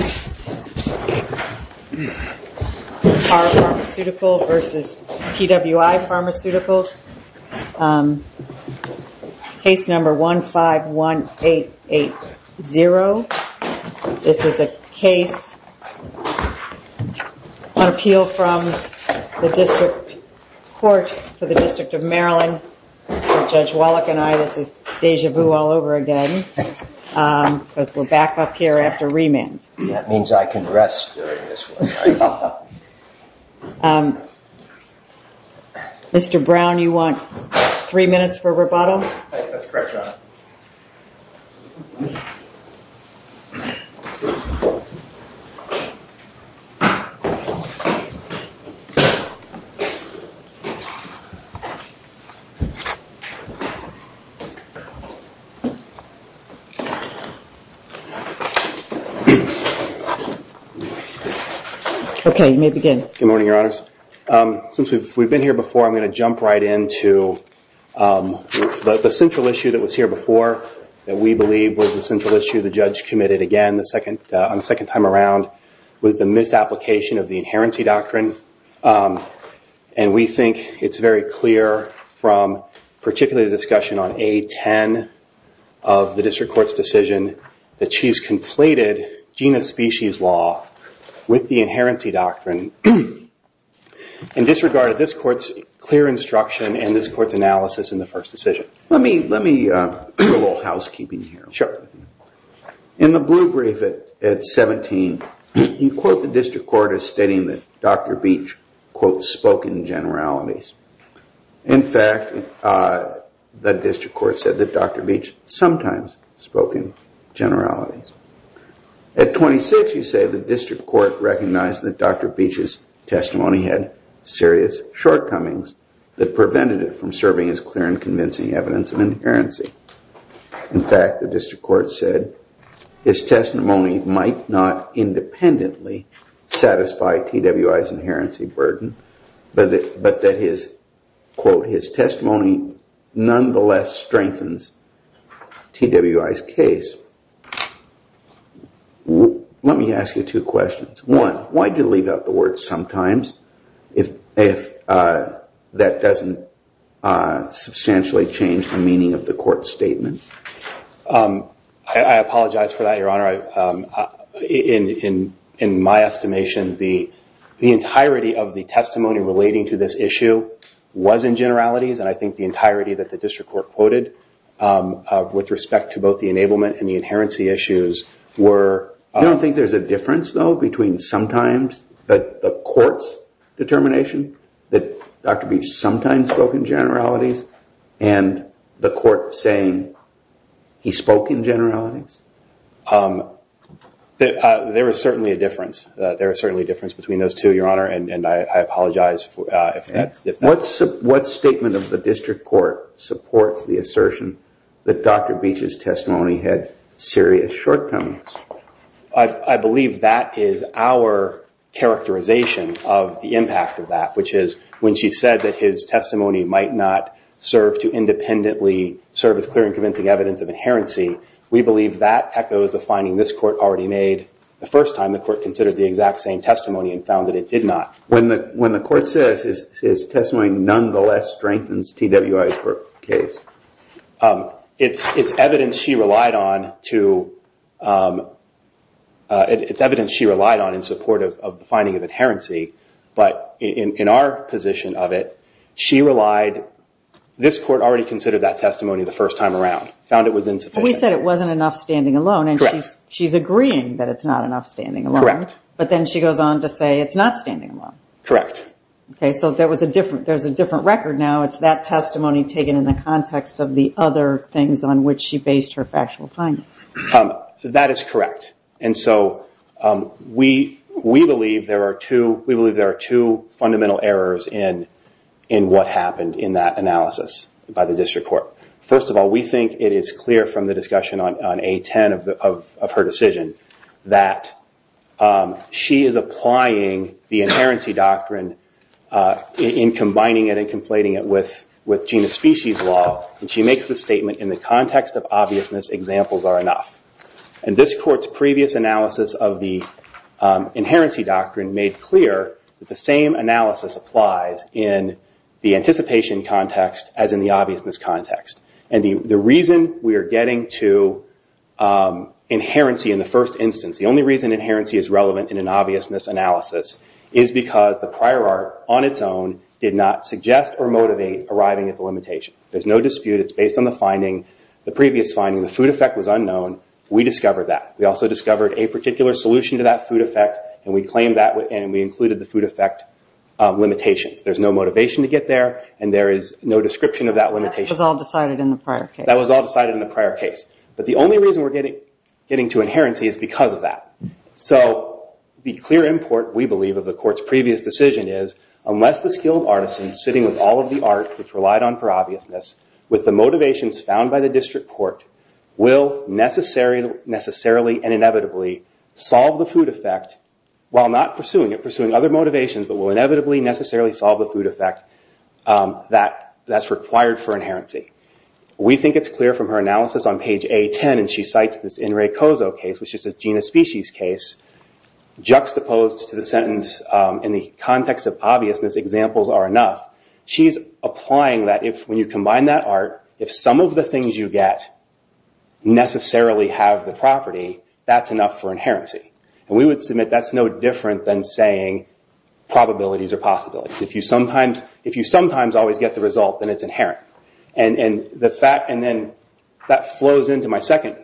Case No. 151880. This is a case on appeal from the District Court for the District of Maryland. Judge Wallach and I, this is déjà vu all over again because we're back up here after remand. That means I can rest during this one. Mr. Brown, you want three minutes for rebuttal? Good morning, Your Honors. Since we've been here before, I'm going to jump right into the central issue that was here before that we believe was the central issue the judge committed again on the second time around was the misapplication of the Inherency Doctrine. We think it's very clear from particularly the discussion on A-10 of the District Court's decision that she's conflated genus species law with the Inherency Doctrine and disregarded this court's clear instruction and this court's analysis in the first decision. Let me do a little housekeeping here. In the blue brief at 17, you quote the District Court as stating that Dr. Beach quote spoken generalities. In fact, the District Court said that Dr. Beach sometimes spoken generalities. At 26, you say the District Court recognized that Dr. Beach's testimony had serious shortcomings that prevented it from serving as clear and convincing evidence of inherency. In fact, the District Court said his testimony might not independently satisfy TWI's inherency burden, but that his quote his testimony nonetheless strengthens TWI's case. Let me ask you two questions. One, why do you leave out the word sometimes if that doesn't substantially change the meaning of the court's statement? I apologize for that, Your Honor. In my estimation, the entirety of the testimony relating to this issue was in generalities, and I think the entirety that the District Court quoted with respect to both the enablement and the inherency issues were... I don't think there's a difference, though, between sometimes the court's determination that Dr. Beach sometimes spoken generalities and the court saying he spoke in generalities? There is certainly a difference. There is certainly a difference between those two, Your Honor, and I apologize for that. What statement of the District Court supports the assertion that Dr. Beach's testimony had serious shortcomings? I believe that is our characterization of the impact of that, which is when she said that his testimony might not serve to independently serve as clear and convincing evidence of inherency, we believe that echoes the finding this court already made the first time the court considered the exact same testimony and found that it did not. When the court says his testimony nonetheless strengthens DWI's case, it's evidence she relied on to... It's evidence she relied on in support of the finding of inherency, but in our position of it, she relied... This court already considered that testimony the first time around, found it was insufficient. We said it wasn't enough standing alone, and she's agreeing that it's not enough standing alone. Correct. But then she goes on to say it's not standing alone. Correct. Okay, so there was a different... There's a different record now. It's that testimony taken in the context of the other things on which she based her factual findings. That is correct. And so we believe there are two fundamental errors in what happened in that analysis by the District Court. First of all, we think it is clear from the discussion on A10 of her decision that she is applying the inherency doctrine in combining it and conflating it with genus species law, and she makes the statement, in the context of obviousness, examples are enough. And this court's previous analysis of the inherency doctrine made clear that the same analysis applies in the anticipation context as in the obviousness context. And the reason we are getting to inherency in the first instance, the only reason inherency is relevant in an obviousness analysis is because the prior art, on its own, did not suggest or motivate arriving at the limitation. There's no dispute. It's based on the finding, the previous finding. The food effect was unknown. We discovered that. We also discovered a particular solution to that food effect, and we included the food effect limitations. There's no motivation to get there, and there is no description of that limitation. That was all decided in the prior case. That was all decided in the prior case. But the only reason we're getting to inherency is because of that. So the clear import, we believe, of the court's previous decision is, unless the skill of artisans, sitting with all of the art which relied on for obviousness, with the motivations found by the district court, will necessarily and inevitably solve the food effect, while not pursuing it, pursuing other motivations, but will inevitably necessarily solve the food effect that's required for inherency. We think it's clear from her analysis on page A10, and she cites this In Re Coso case, which is a genus species case, juxtaposed to the sentence, in the context of obviousness, examples are enough. She's applying that if, when you combine that art, if some of the things you get necessarily have the property, that's enough for inherency. We would submit that's no different than saying probabilities are possibilities. If you sometimes always get the result, then it's inherent. That flows into my second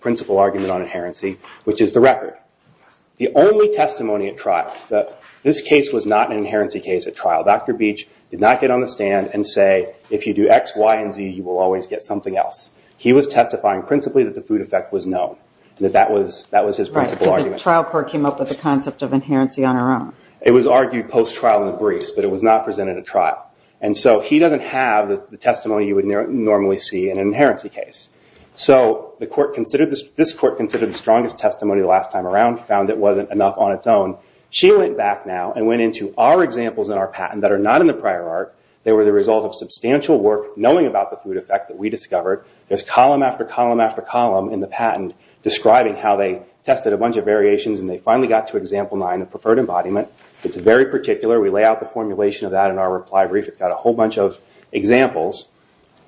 principle argument on inherency, which is the record. The only testimony at trial, this case was not an inherency case at trial. Dr. Beach did not get on the stand and say, if you do X, Y, and Z, you will always get something else. He was testifying principally that the food effect was known. That was his principle argument. The trial court came up with the concept of inherency on her own. It was argued post-trial in the briefs, but it was not presented at trial. He doesn't have the testimony you would normally see in an inherency case. This court considered the strongest testimony last time around, found it wasn't enough on its own. She went back now and went into our examples in our patent that are not in the prior art. They were the result of substantial work knowing about the food effect that we discovered. There's column after column after column in the patent describing how they tested a bunch of variations, and they finally got to example nine, a preferred embodiment. It's very particular. We lay out the formulation of that in our reply brief. It's got a whole bunch of examples,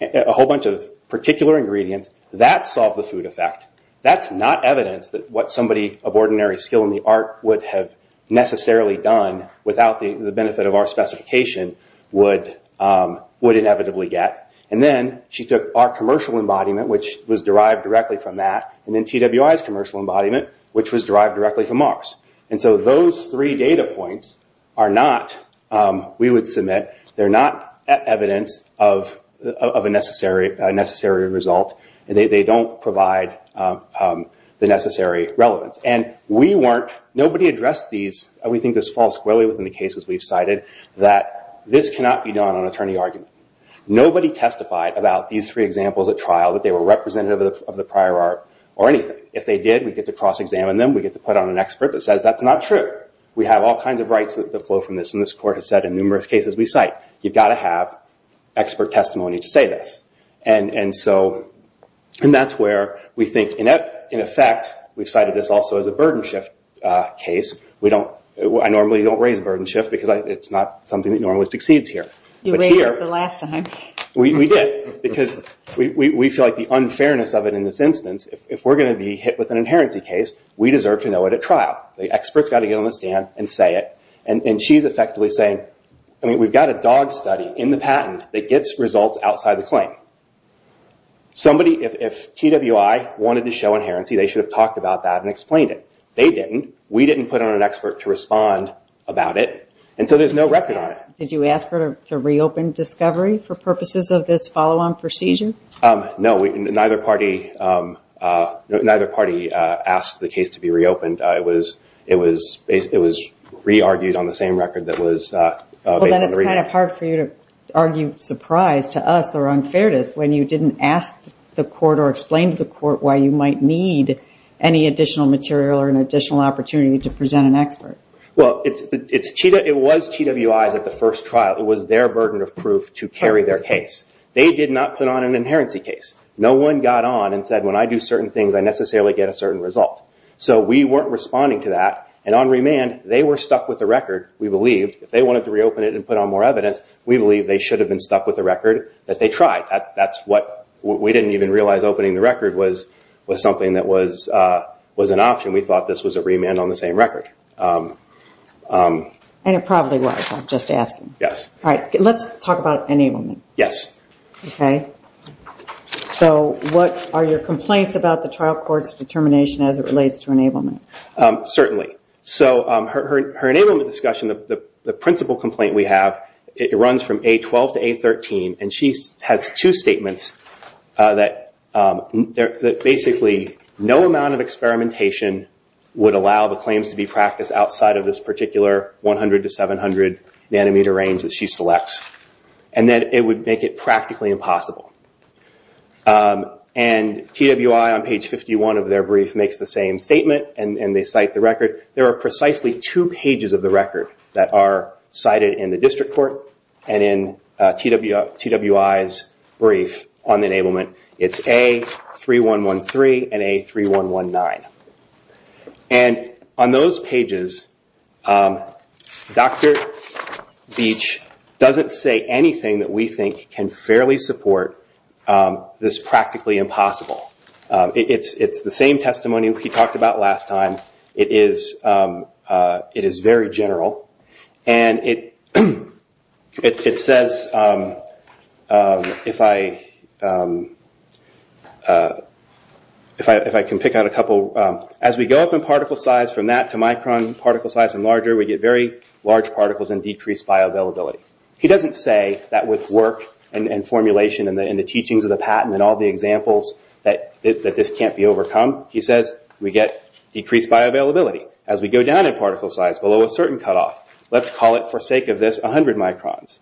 a whole bunch of particular ingredients. That solved the food effect. That's not evidence that what somebody of ordinary skill in the art would have necessarily done without the benefit of our specification would inevitably get. Then she took our commercial embodiment, which was derived directly from that, and then TWI's commercial embodiment, which was derived directly from ours. Those three data points are not, we would submit, they're not evidence of a necessary result. They don't provide the necessary relevance. Nobody addressed these, and we think this falls squarely within the cases we've cited, that this cannot be done on attorney argument. Nobody testified about these three examples at trial. We get to put on an expert that says that's not true. We have all kinds of rights that flow from this, and this court has said in numerous cases we cite, you've got to have expert testimony to say this. That's where we think, in effect, we've cited this also as a burden shift case. I normally don't raise a burden shift because it's not something that normally succeeds here. You raised it the last time. We did because we feel like the unfairness of it in this instance, if we're going to be hit with an inherency case, we deserve to know it at trial. The expert's got to get on the stand and say it, and she's effectively saying, we've got a dog study in the patent that gets results outside the claim. If TWI wanted to show inherency, they should have talked about that and explained it. They didn't. We didn't put on an expert to respond about it, and so there's no record on it. Did you ask her to reopen discovery for purposes of this follow-on procedure? No. Neither party asked the case to be reopened. It was re-argued on the same record that was based on the review. It's hard for you to argue surprise to us or unfairness when you didn't ask the court or explain to the court why you might need any additional material or an additional opportunity to present an expert. Well, it was TWI's at the first trial. It was their burden of proof to carry their case. They did not put on an inherency case. No one got on and said, when I do certain things, I necessarily get a certain result. So we weren't responding to that, and on remand, they were stuck with the record, we believe. If they wanted to reopen it and put on more evidence, we believe they should have been stuck with the record that they tried. That's what we didn't even realize opening the record was something that was an option. We thought this was a remand on the same record. And it probably was. I'm just asking. Yes. All right. Let's talk about enablement. Yes. Okay. So what are your complaints about the trial court's determination as it relates to enablement? Certainly. So her enablement discussion, the principle complaint we have, it runs from A12 to A13, and she has two statements that basically no amount of experimentation would allow the claims to be practiced outside of this particular 100 to 700 nanometer range that she selects, and that it would make it practically impossible. And TWI on page 51 of their brief makes the same statement, and they cite the record. There are precisely two pages of the record that are cited in the district court and in TWI's brief on enablement. It's A3113 and A3119. And on those pages, Dr. Beach doesn't say anything that we think can fairly support this practically impossible. It's the same testimony we talked about last time. It is very general, and it says, if I can pick out a couple, as we go up in particle size from that to micron particle size and larger, we get very large particles and decreased bioavailability. He doesn't say that with work and formulation and the teachings of the patent and all the examples that this can't be overcome. He says we get decreased bioavailability as we go down in particle size below a certain cutoff. Let's call it, for sake of this, 100 microns.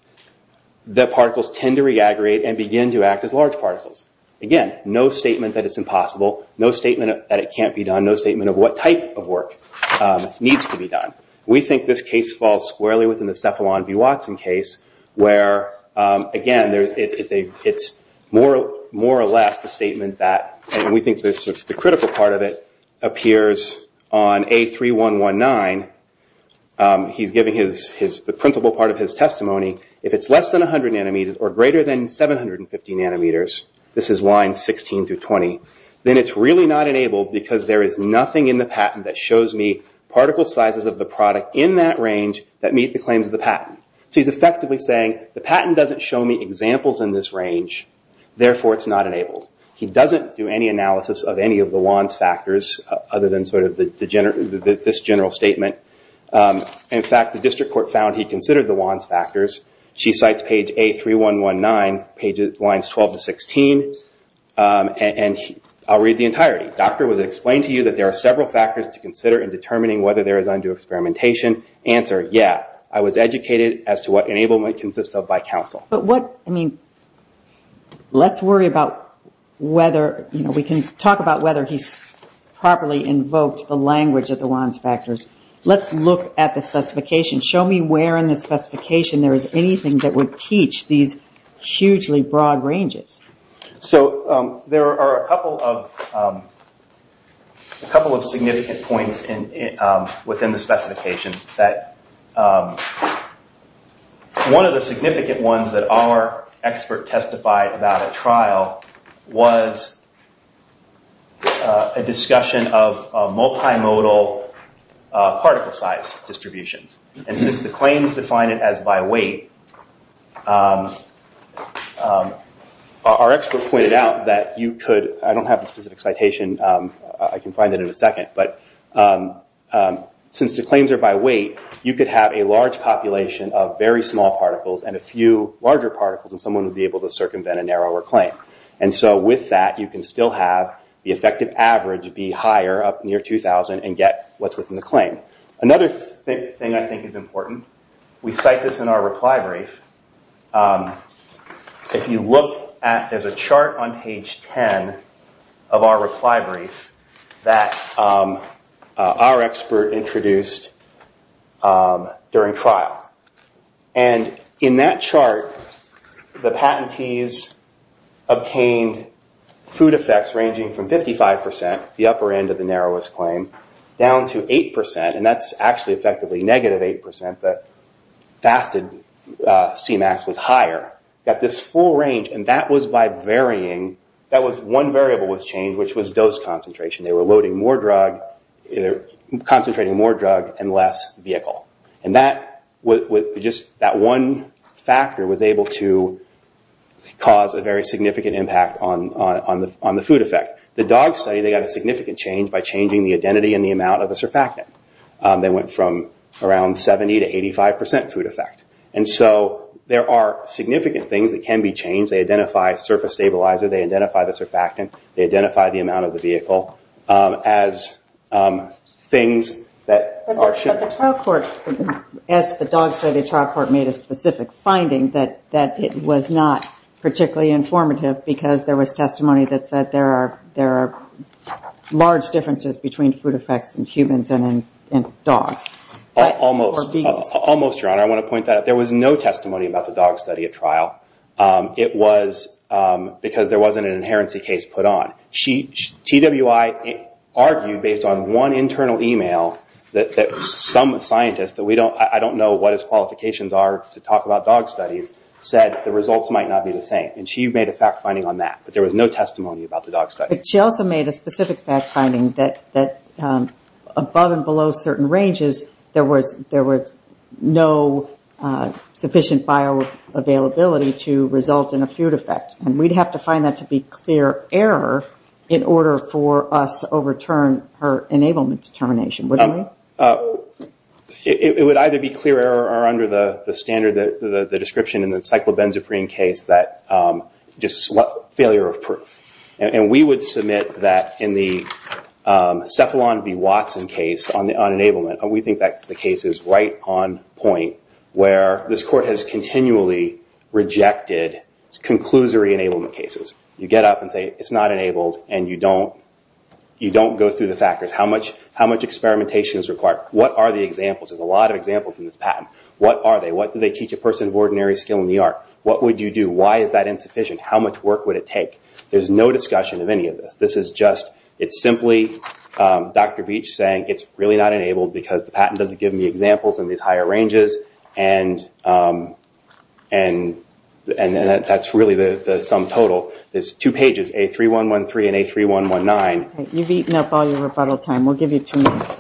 The particles tend to re-aggregate and begin to act as large particles. Again, no statement that it's impossible, no statement that it can't be done, no statement of what type of work needs to be done. We think this case falls squarely within the Cephalon-B. Watson case, where, again, it's more or less the statement that, and we think the critical part of it, appears on A3119. He's giving the printable part of his testimony. If it's less than 100 nanometers or greater than 750 nanometers, this is lines 16 through 20, then it's really not enabled because there is nothing in the patent that shows me particle sizes of the product in that range that meet claims of the patent. He's effectively saying the patent doesn't show me examples in this range, therefore, it's not enabled. He doesn't do any analysis of any of the Wands factors, other than this general statement. In fact, the district court found he considered the Wands factors. She cites page A3119, lines 12 to 16. I'll read the entirety. Doctor, was it explained to you that there are several factors to consider in determining whether there is undue experimentation? Answer, yeah. I was educated as to what enablement consists of by counsel. Let's worry about whether we can talk about whether he's properly invoked the language of the Wands factors. Let's look at the specification. Show me where in the specification there is anything that would teach these hugely broad ranges. So there are a couple of significant points within the specification that one of the significant ones that our expert testified about at trial was a discussion of multimodal particle size distributions. Since the claims define it as by weight, our expert pointed out that you could, I don't have a specific citation, I can find it in a second, but since the claims are by weight, you could have a large population of very small particles and a few larger particles and someone would be able to circumvent a narrower claim. With that, you can still have the effective average be higher up near 2000 and get what's important. We cite this in our reply brief. There's a chart on page 10 of our reply brief that our expert introduced during trial. In that chart, the patentees obtained food effects ranging from 55 percent, the upper end of the narrowest claim, down to 8 percent and that's effectively negative 8 percent, but fasted CMAX was higher, got this full range. One variable was changed, which was dose concentration. They were loading more drug, concentrating more drug and less vehicle. That one factor was able to cause a very significant impact on the food effect. The dog study, they got a significant change by changing the identity and the amount of the surfactant. They went from around 70 to 85 percent food effect. There are significant things that can be changed. They identify surface stabilizer, they identify the surfactant, they identify the amount of the vehicle as things that are shared. The trial court, as the dog study trial court made a specific finding that it was not particularly informative because there was differences between food effects in humans and in dogs. Almost. I want to point that out. There was no testimony about the dog study at trial. It was because there wasn't an inherency case put on. TWI argued based on one internal email that some scientists, I don't know what his qualifications are to talk about dog studies, said the results might not be the same. She made a fact finding on that, but there was no fact finding that above and below certain ranges, there was no sufficient bioavailability to result in a food effect. We would have to find that to be clear error in order for us to overturn her enablement determination. It would either be clear error or under the standard description in the Cephalon v. Watson case on enablement. We think that the case is right on point where this court has continually rejected conclusory enablement cases. You get up and say it's not enabled and you don't go through the factors. How much experimentation is required? What are the examples? There's a lot of examples in this patent. What are they? What do they teach a person of ordinary skill in the art? What would you do? Why is that insufficient? How much work would it take? It's simply Dr. Beach saying it's really not enabled because the patent doesn't give me examples in these higher ranges. That's really the sum total. There's two pages, A3113 and A3119. You've eaten up all your rebuttal time. We'll give you two minutes.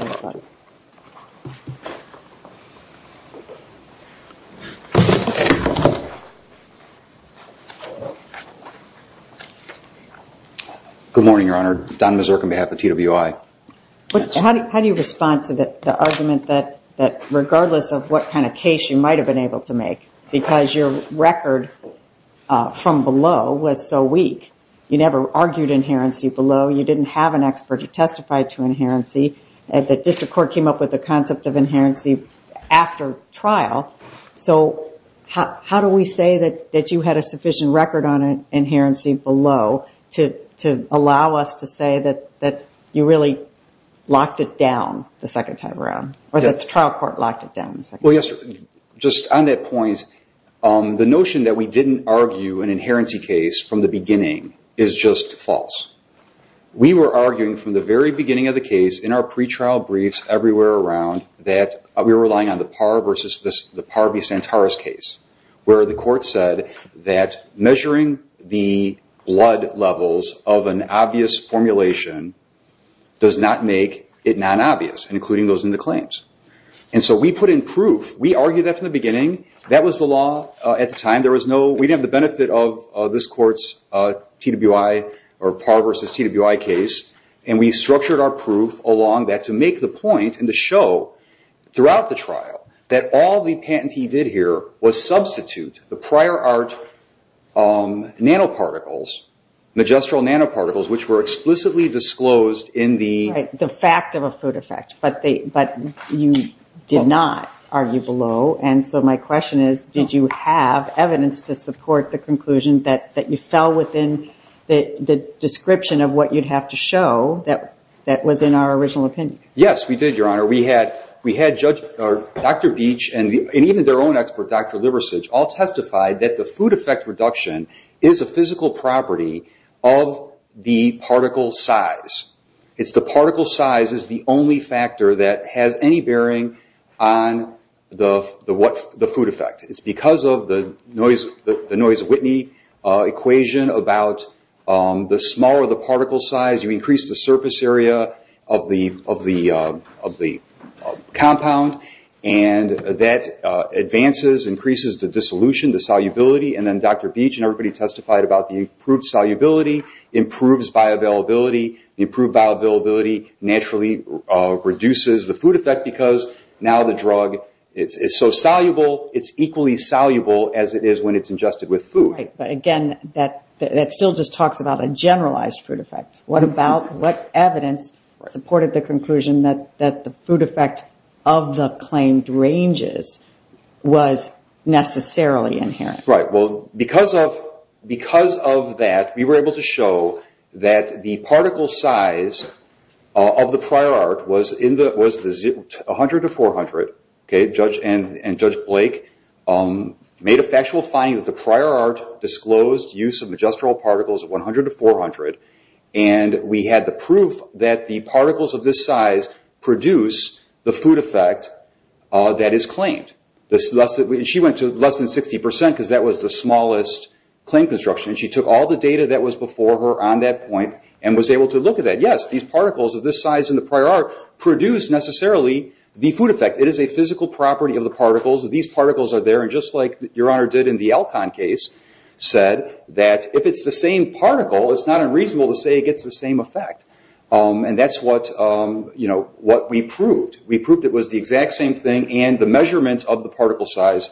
Good morning, Your Honor. Don Mazurk on behalf of TWI. How do you respond to the argument that regardless of what kind of case you might have been able to testify to inherency, the district court came up with the concept of inherency after trial. How do we say that you had a sufficient record on inherency below to allow us to say that you really locked it down the second time around or that the trial court locked it down? Just on that point, the notion that we didn't argue an inherency case from the beginning is just false. We were arguing from the very beginning of the case in our pre-trial briefs everywhere around that we were relying on the Parr v. Santaris case where the court said that measuring the blood levels of an obvious formulation does not make it non-obvious, including those in the claims. We put in proof. We argued that from the beginning. That was the law at the time. We didn't have the benefit of this court's Parr v. TWI case, and we structured our proof along that to make the point and to show throughout the trial that all the patentee did here was substitute the prior art nanoparticles, magistral nanoparticles, which were explicitly disclosed in the… Did you have evidence to support the conclusion that you fell within the description of what you'd have to show that was in our original opinion? Yes, we did, Your Honor. We had Dr. Beach and even their own expert, Dr. Liversidge, all testified that the food effect reduction is a physical property of the particle size. The particle size is the only factor that has any bearing on the food effect. It's because of the Noyce-Whitney equation about the smaller the particle size, you increase the surface area of the compound, and that advances, increases the dissolution, the solubility. Then Dr. Beach and everybody testified about the improved solubility, improves bioavailability. Improved bioavailability naturally reduces the food effect because now the drug is so soluble, it's equally soluble as it is when it's ingested with food. But again, that still just talks about a generalized food effect. What evidence supported the conclusion that the food effect of the claimed ranges was necessarily inherent? Because of that, we were able to show that the particle size of the prior art was 100 to 400. And Judge Blake made a factual finding that the prior art disclosed use of majestural particles of 100 to 400, and we had the proof that the particles of this size produce the food effect that is claimed. She went to less than 60 percent because that was the smallest claim construction, and she took all the data that was before her on that point and was able to look at that. Yes, these particles of this size in the prior art produce necessarily the food effect. It is a physical property of the particles. These particles are there, and just like Your Honor did in the Alcon case, said that if it's the same particle, it's not unreasonable to say it gets the same effect. And that's what we proved. We proved it was the exact same thing, and the measurements of the particle size,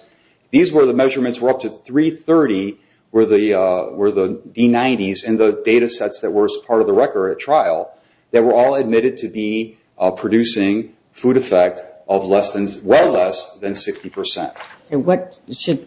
these were the measurements were up to 330, were the D90s, and the data sets that were part of the record at trial that were all admitted to be producing food effect of well less than 60 percent. And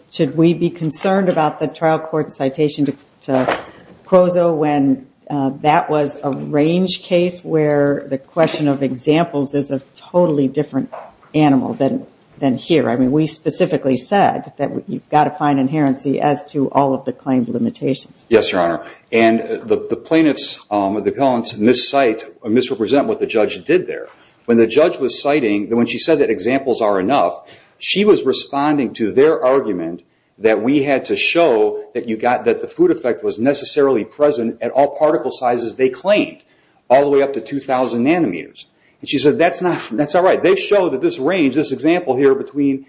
should we be concerned about the trial court citation to Cuozo when that was a range case where the question of examples is a totally different animal than here? I mean, we specifically said that you've got to find inherency as to all of the claimed limitations. Yes, Your Honor, and the plaintiffs, the appellants, misrepresent what the judge did there. When the judge was citing, when she said that examples are enough, she was responding to their argument that we had to show that the food effect was necessarily present at all particle sizes they claimed, all the way up to 2,000 nanometers. And she said, that's not right. They show that this range, this example here between,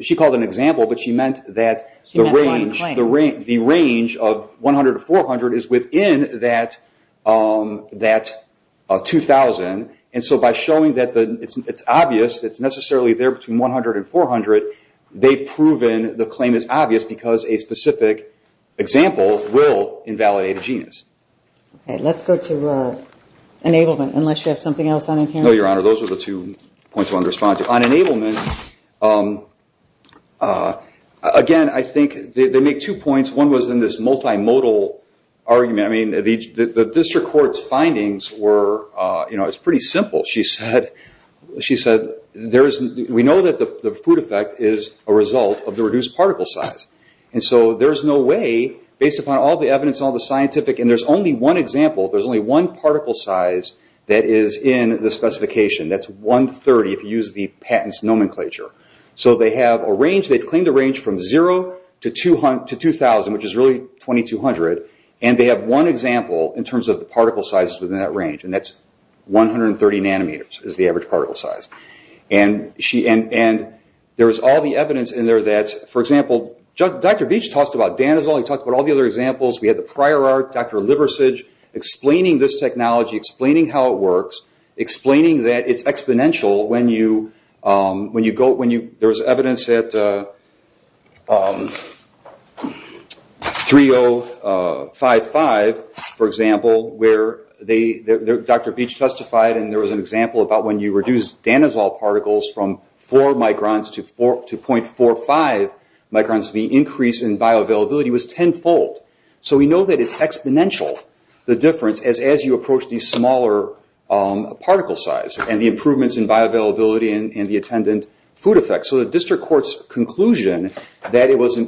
she called it an example, but she meant that the range of 100 to 400 is within that 2,000, and so by showing that it's obvious that it's necessarily there between 100 and 400, they've proven the claim is obvious because a specific example will invalidate a genus. Okay, let's go to enablement, unless you have something else on hand? No, Your Honor, those are the two points I wanted to respond to. On enablement, again, I think they make two points. One was in this there is, we know that the food effect is a result of the reduced particle size, and so there's no way, based upon all the evidence and all the scientific, and there's only one example, there's only one particle size that is in the specification. That's 130, if you use the patent's nomenclature. So they have a range, they've claimed a range from zero to 2,000, which is really 2,200, and they have one example in terms of the particle sizes within that range, and that's 130 nanometers is the average particle size, and there's all the evidence in there that, for example, Dr. Beach talked about danosyl, he talked about all the other examples, we had the prior art, Dr. Liversidge explaining this technology, explaining how it works, explaining that it's exponential when you go, there's evidence at 3055, for example, where Dr. Beach testified, and there was an example about when you reduce danosyl particles from four microns to 0.45 microns, the increase in bioavailability was tenfold. So we know that it's exponential, the difference, as you approach the smaller particle size, and the improvements in bioavailability and the attendant food effect. So the district court's conclusion that it was the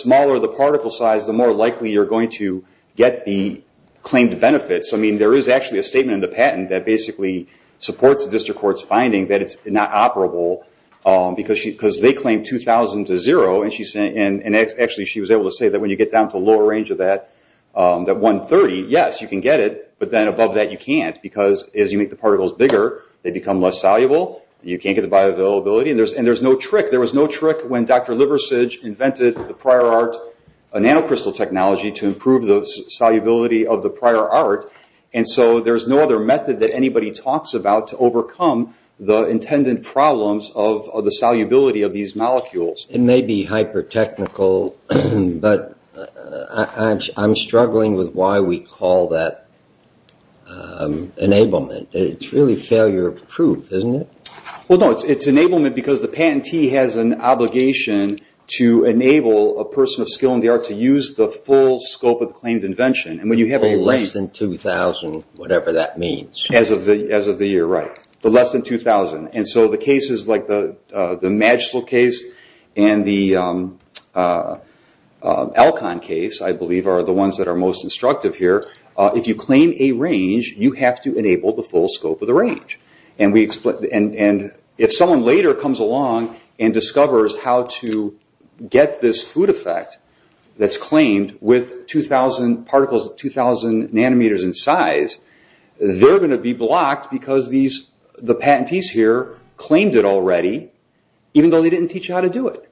smaller the particle size, the more likely you're going to get the claimed benefits. I mean, there is actually a statement in the patent that basically supports the district court's finding that it's not operable, because they claim 2,000 to zero, and actually she was able to say that when you get down to a lower range of that, that 130, yes, you can get it, but then above that, you can't, because as you make the particles bigger, they become less soluble, you can't get the bioavailability, and there's no trick. There was no trick when Dr. Liversidge invented the nanocrystal technology to improve the solubility of the prior art, and so there's no other method that anybody talks about to overcome the intended problems of the solubility of these molecules. It may be hyper-technical, but I'm struggling with why we call that enablement. It's really failure-proof, isn't it? Well, no, it's enablement because the patentee has an obligation to enable a person of skill in the art to use the full scope of the claimed invention, and when you have a range... Less than 2,000, whatever that means. As of the year, right, but less than 2,000, and so the cases like the Magistral case and the Alcon case, I believe, are the ones that are most instructive here. If you claim a range, you have to enable the full scope of the range, and if someone later comes along and discovers how to get this food effect that's claimed with 2,000 nanometers in size, they're going to be blocked because the patentees here claimed it already, even though they didn't teach you how to do it,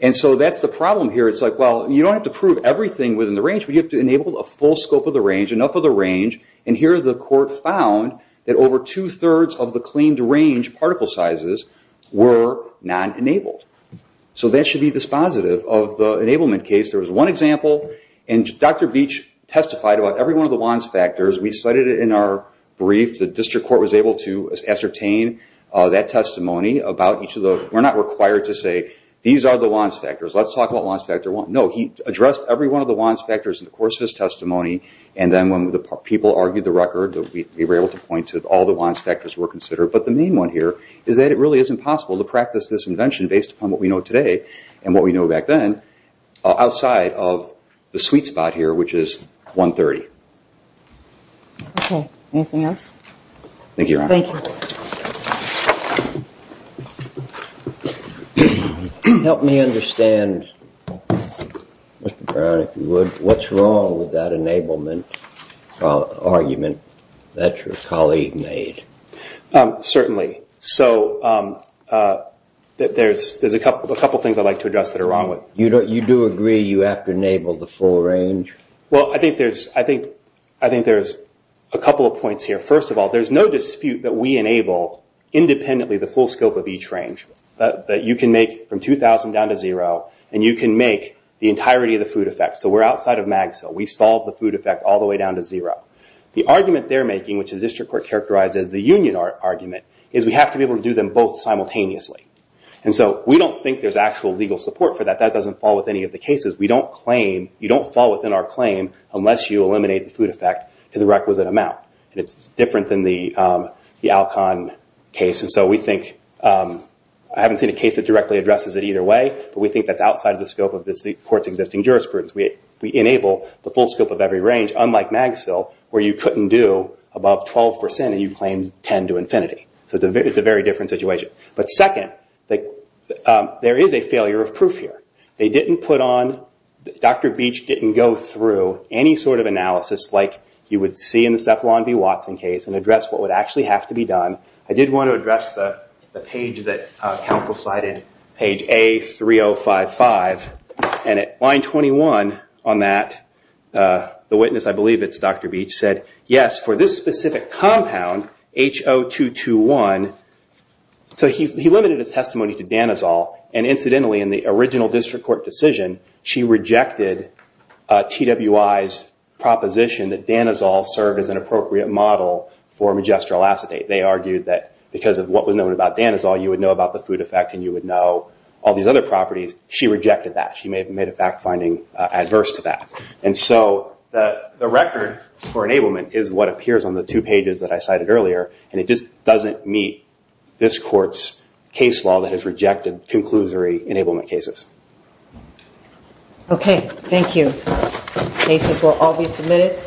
and so that's the problem here. It's like, well, you don't have to prove everything within the range, but you have to enable a full scope of the range, enough of the range, and here the court found that over two-thirds of the claimed range particle sizes were non-enabled, so that should be dispositive of the enablement case. There was one example, and Dr. Beach testified about every one of the WANs factors. We cited it in our brief. The district court was able to ascertain that testimony about each of the... We're not required to say, these are the WANs factors. Let's talk about WANs factors. No, he addressed every one of the WANs testimony, and then when the people argued the record, we were able to point to all the WANs factors were considered, but the main one here is that it really is impossible to practice this invention based upon what we know today and what we know back then outside of the sweet spot here, which is 130. Okay. Anything else? Thank you, Your Honor. Thank you. Help me understand, Mr. Brown, if you would, what's wrong with that enablement argument that your colleague made. Certainly. So there's a couple of things I'd like to address that are wrong with it. You do agree you have to enable the full range? Well, I think there's a couple of points here. First of all, there's no dispute that we enable independently the full scope of each range that you can make from 2,000 down to zero, and you can make the entirety of the food effect. So we're outside of MAGSO. We solve the food effect all the way down to zero. The argument they're making, which the district court characterizes the union argument, is we have to be able to do them both simultaneously. And so we don't think there's actual legal support for that. That doesn't fall with any of the cases. We don't claim, you don't fall within our claim unless you eliminate the food effect to the requisite amount. It's different than the Alcon case. And so we think, I haven't seen a case that directly addresses it either way, but we think that's outside of the scope of the court's existing jurisprudence. We enable the full scope of every range, unlike MAGSO, where you couldn't do above 12% and you claimed 10 to infinity. So it's a very different situation. But second, there is a failure of proof here. Dr. Beach didn't go through any sort of analysis like you would see in the Cephalon v. Watson case and address what would actually have to be done. I did want to address the page that counsel cited, page A3055. And at line 21 on that, the witness, I believe it's Dr. Beach, said, yes, for this specific compound, H0221. So he limited his testimony to Danazol. And incidentally, in the original district court decision, she rejected TWI's proposition that Danazol served as an appropriate model for majestural acetate. They argued that because of what was known about Danazol, you would know about the food effect and you would know all these other properties. She rejected that. She made a fact finding adverse to that. And so the record for enablement is what just doesn't meet this court's case law that has rejected conclusory enablement cases. Okay. Thank you. Cases will all be submitted.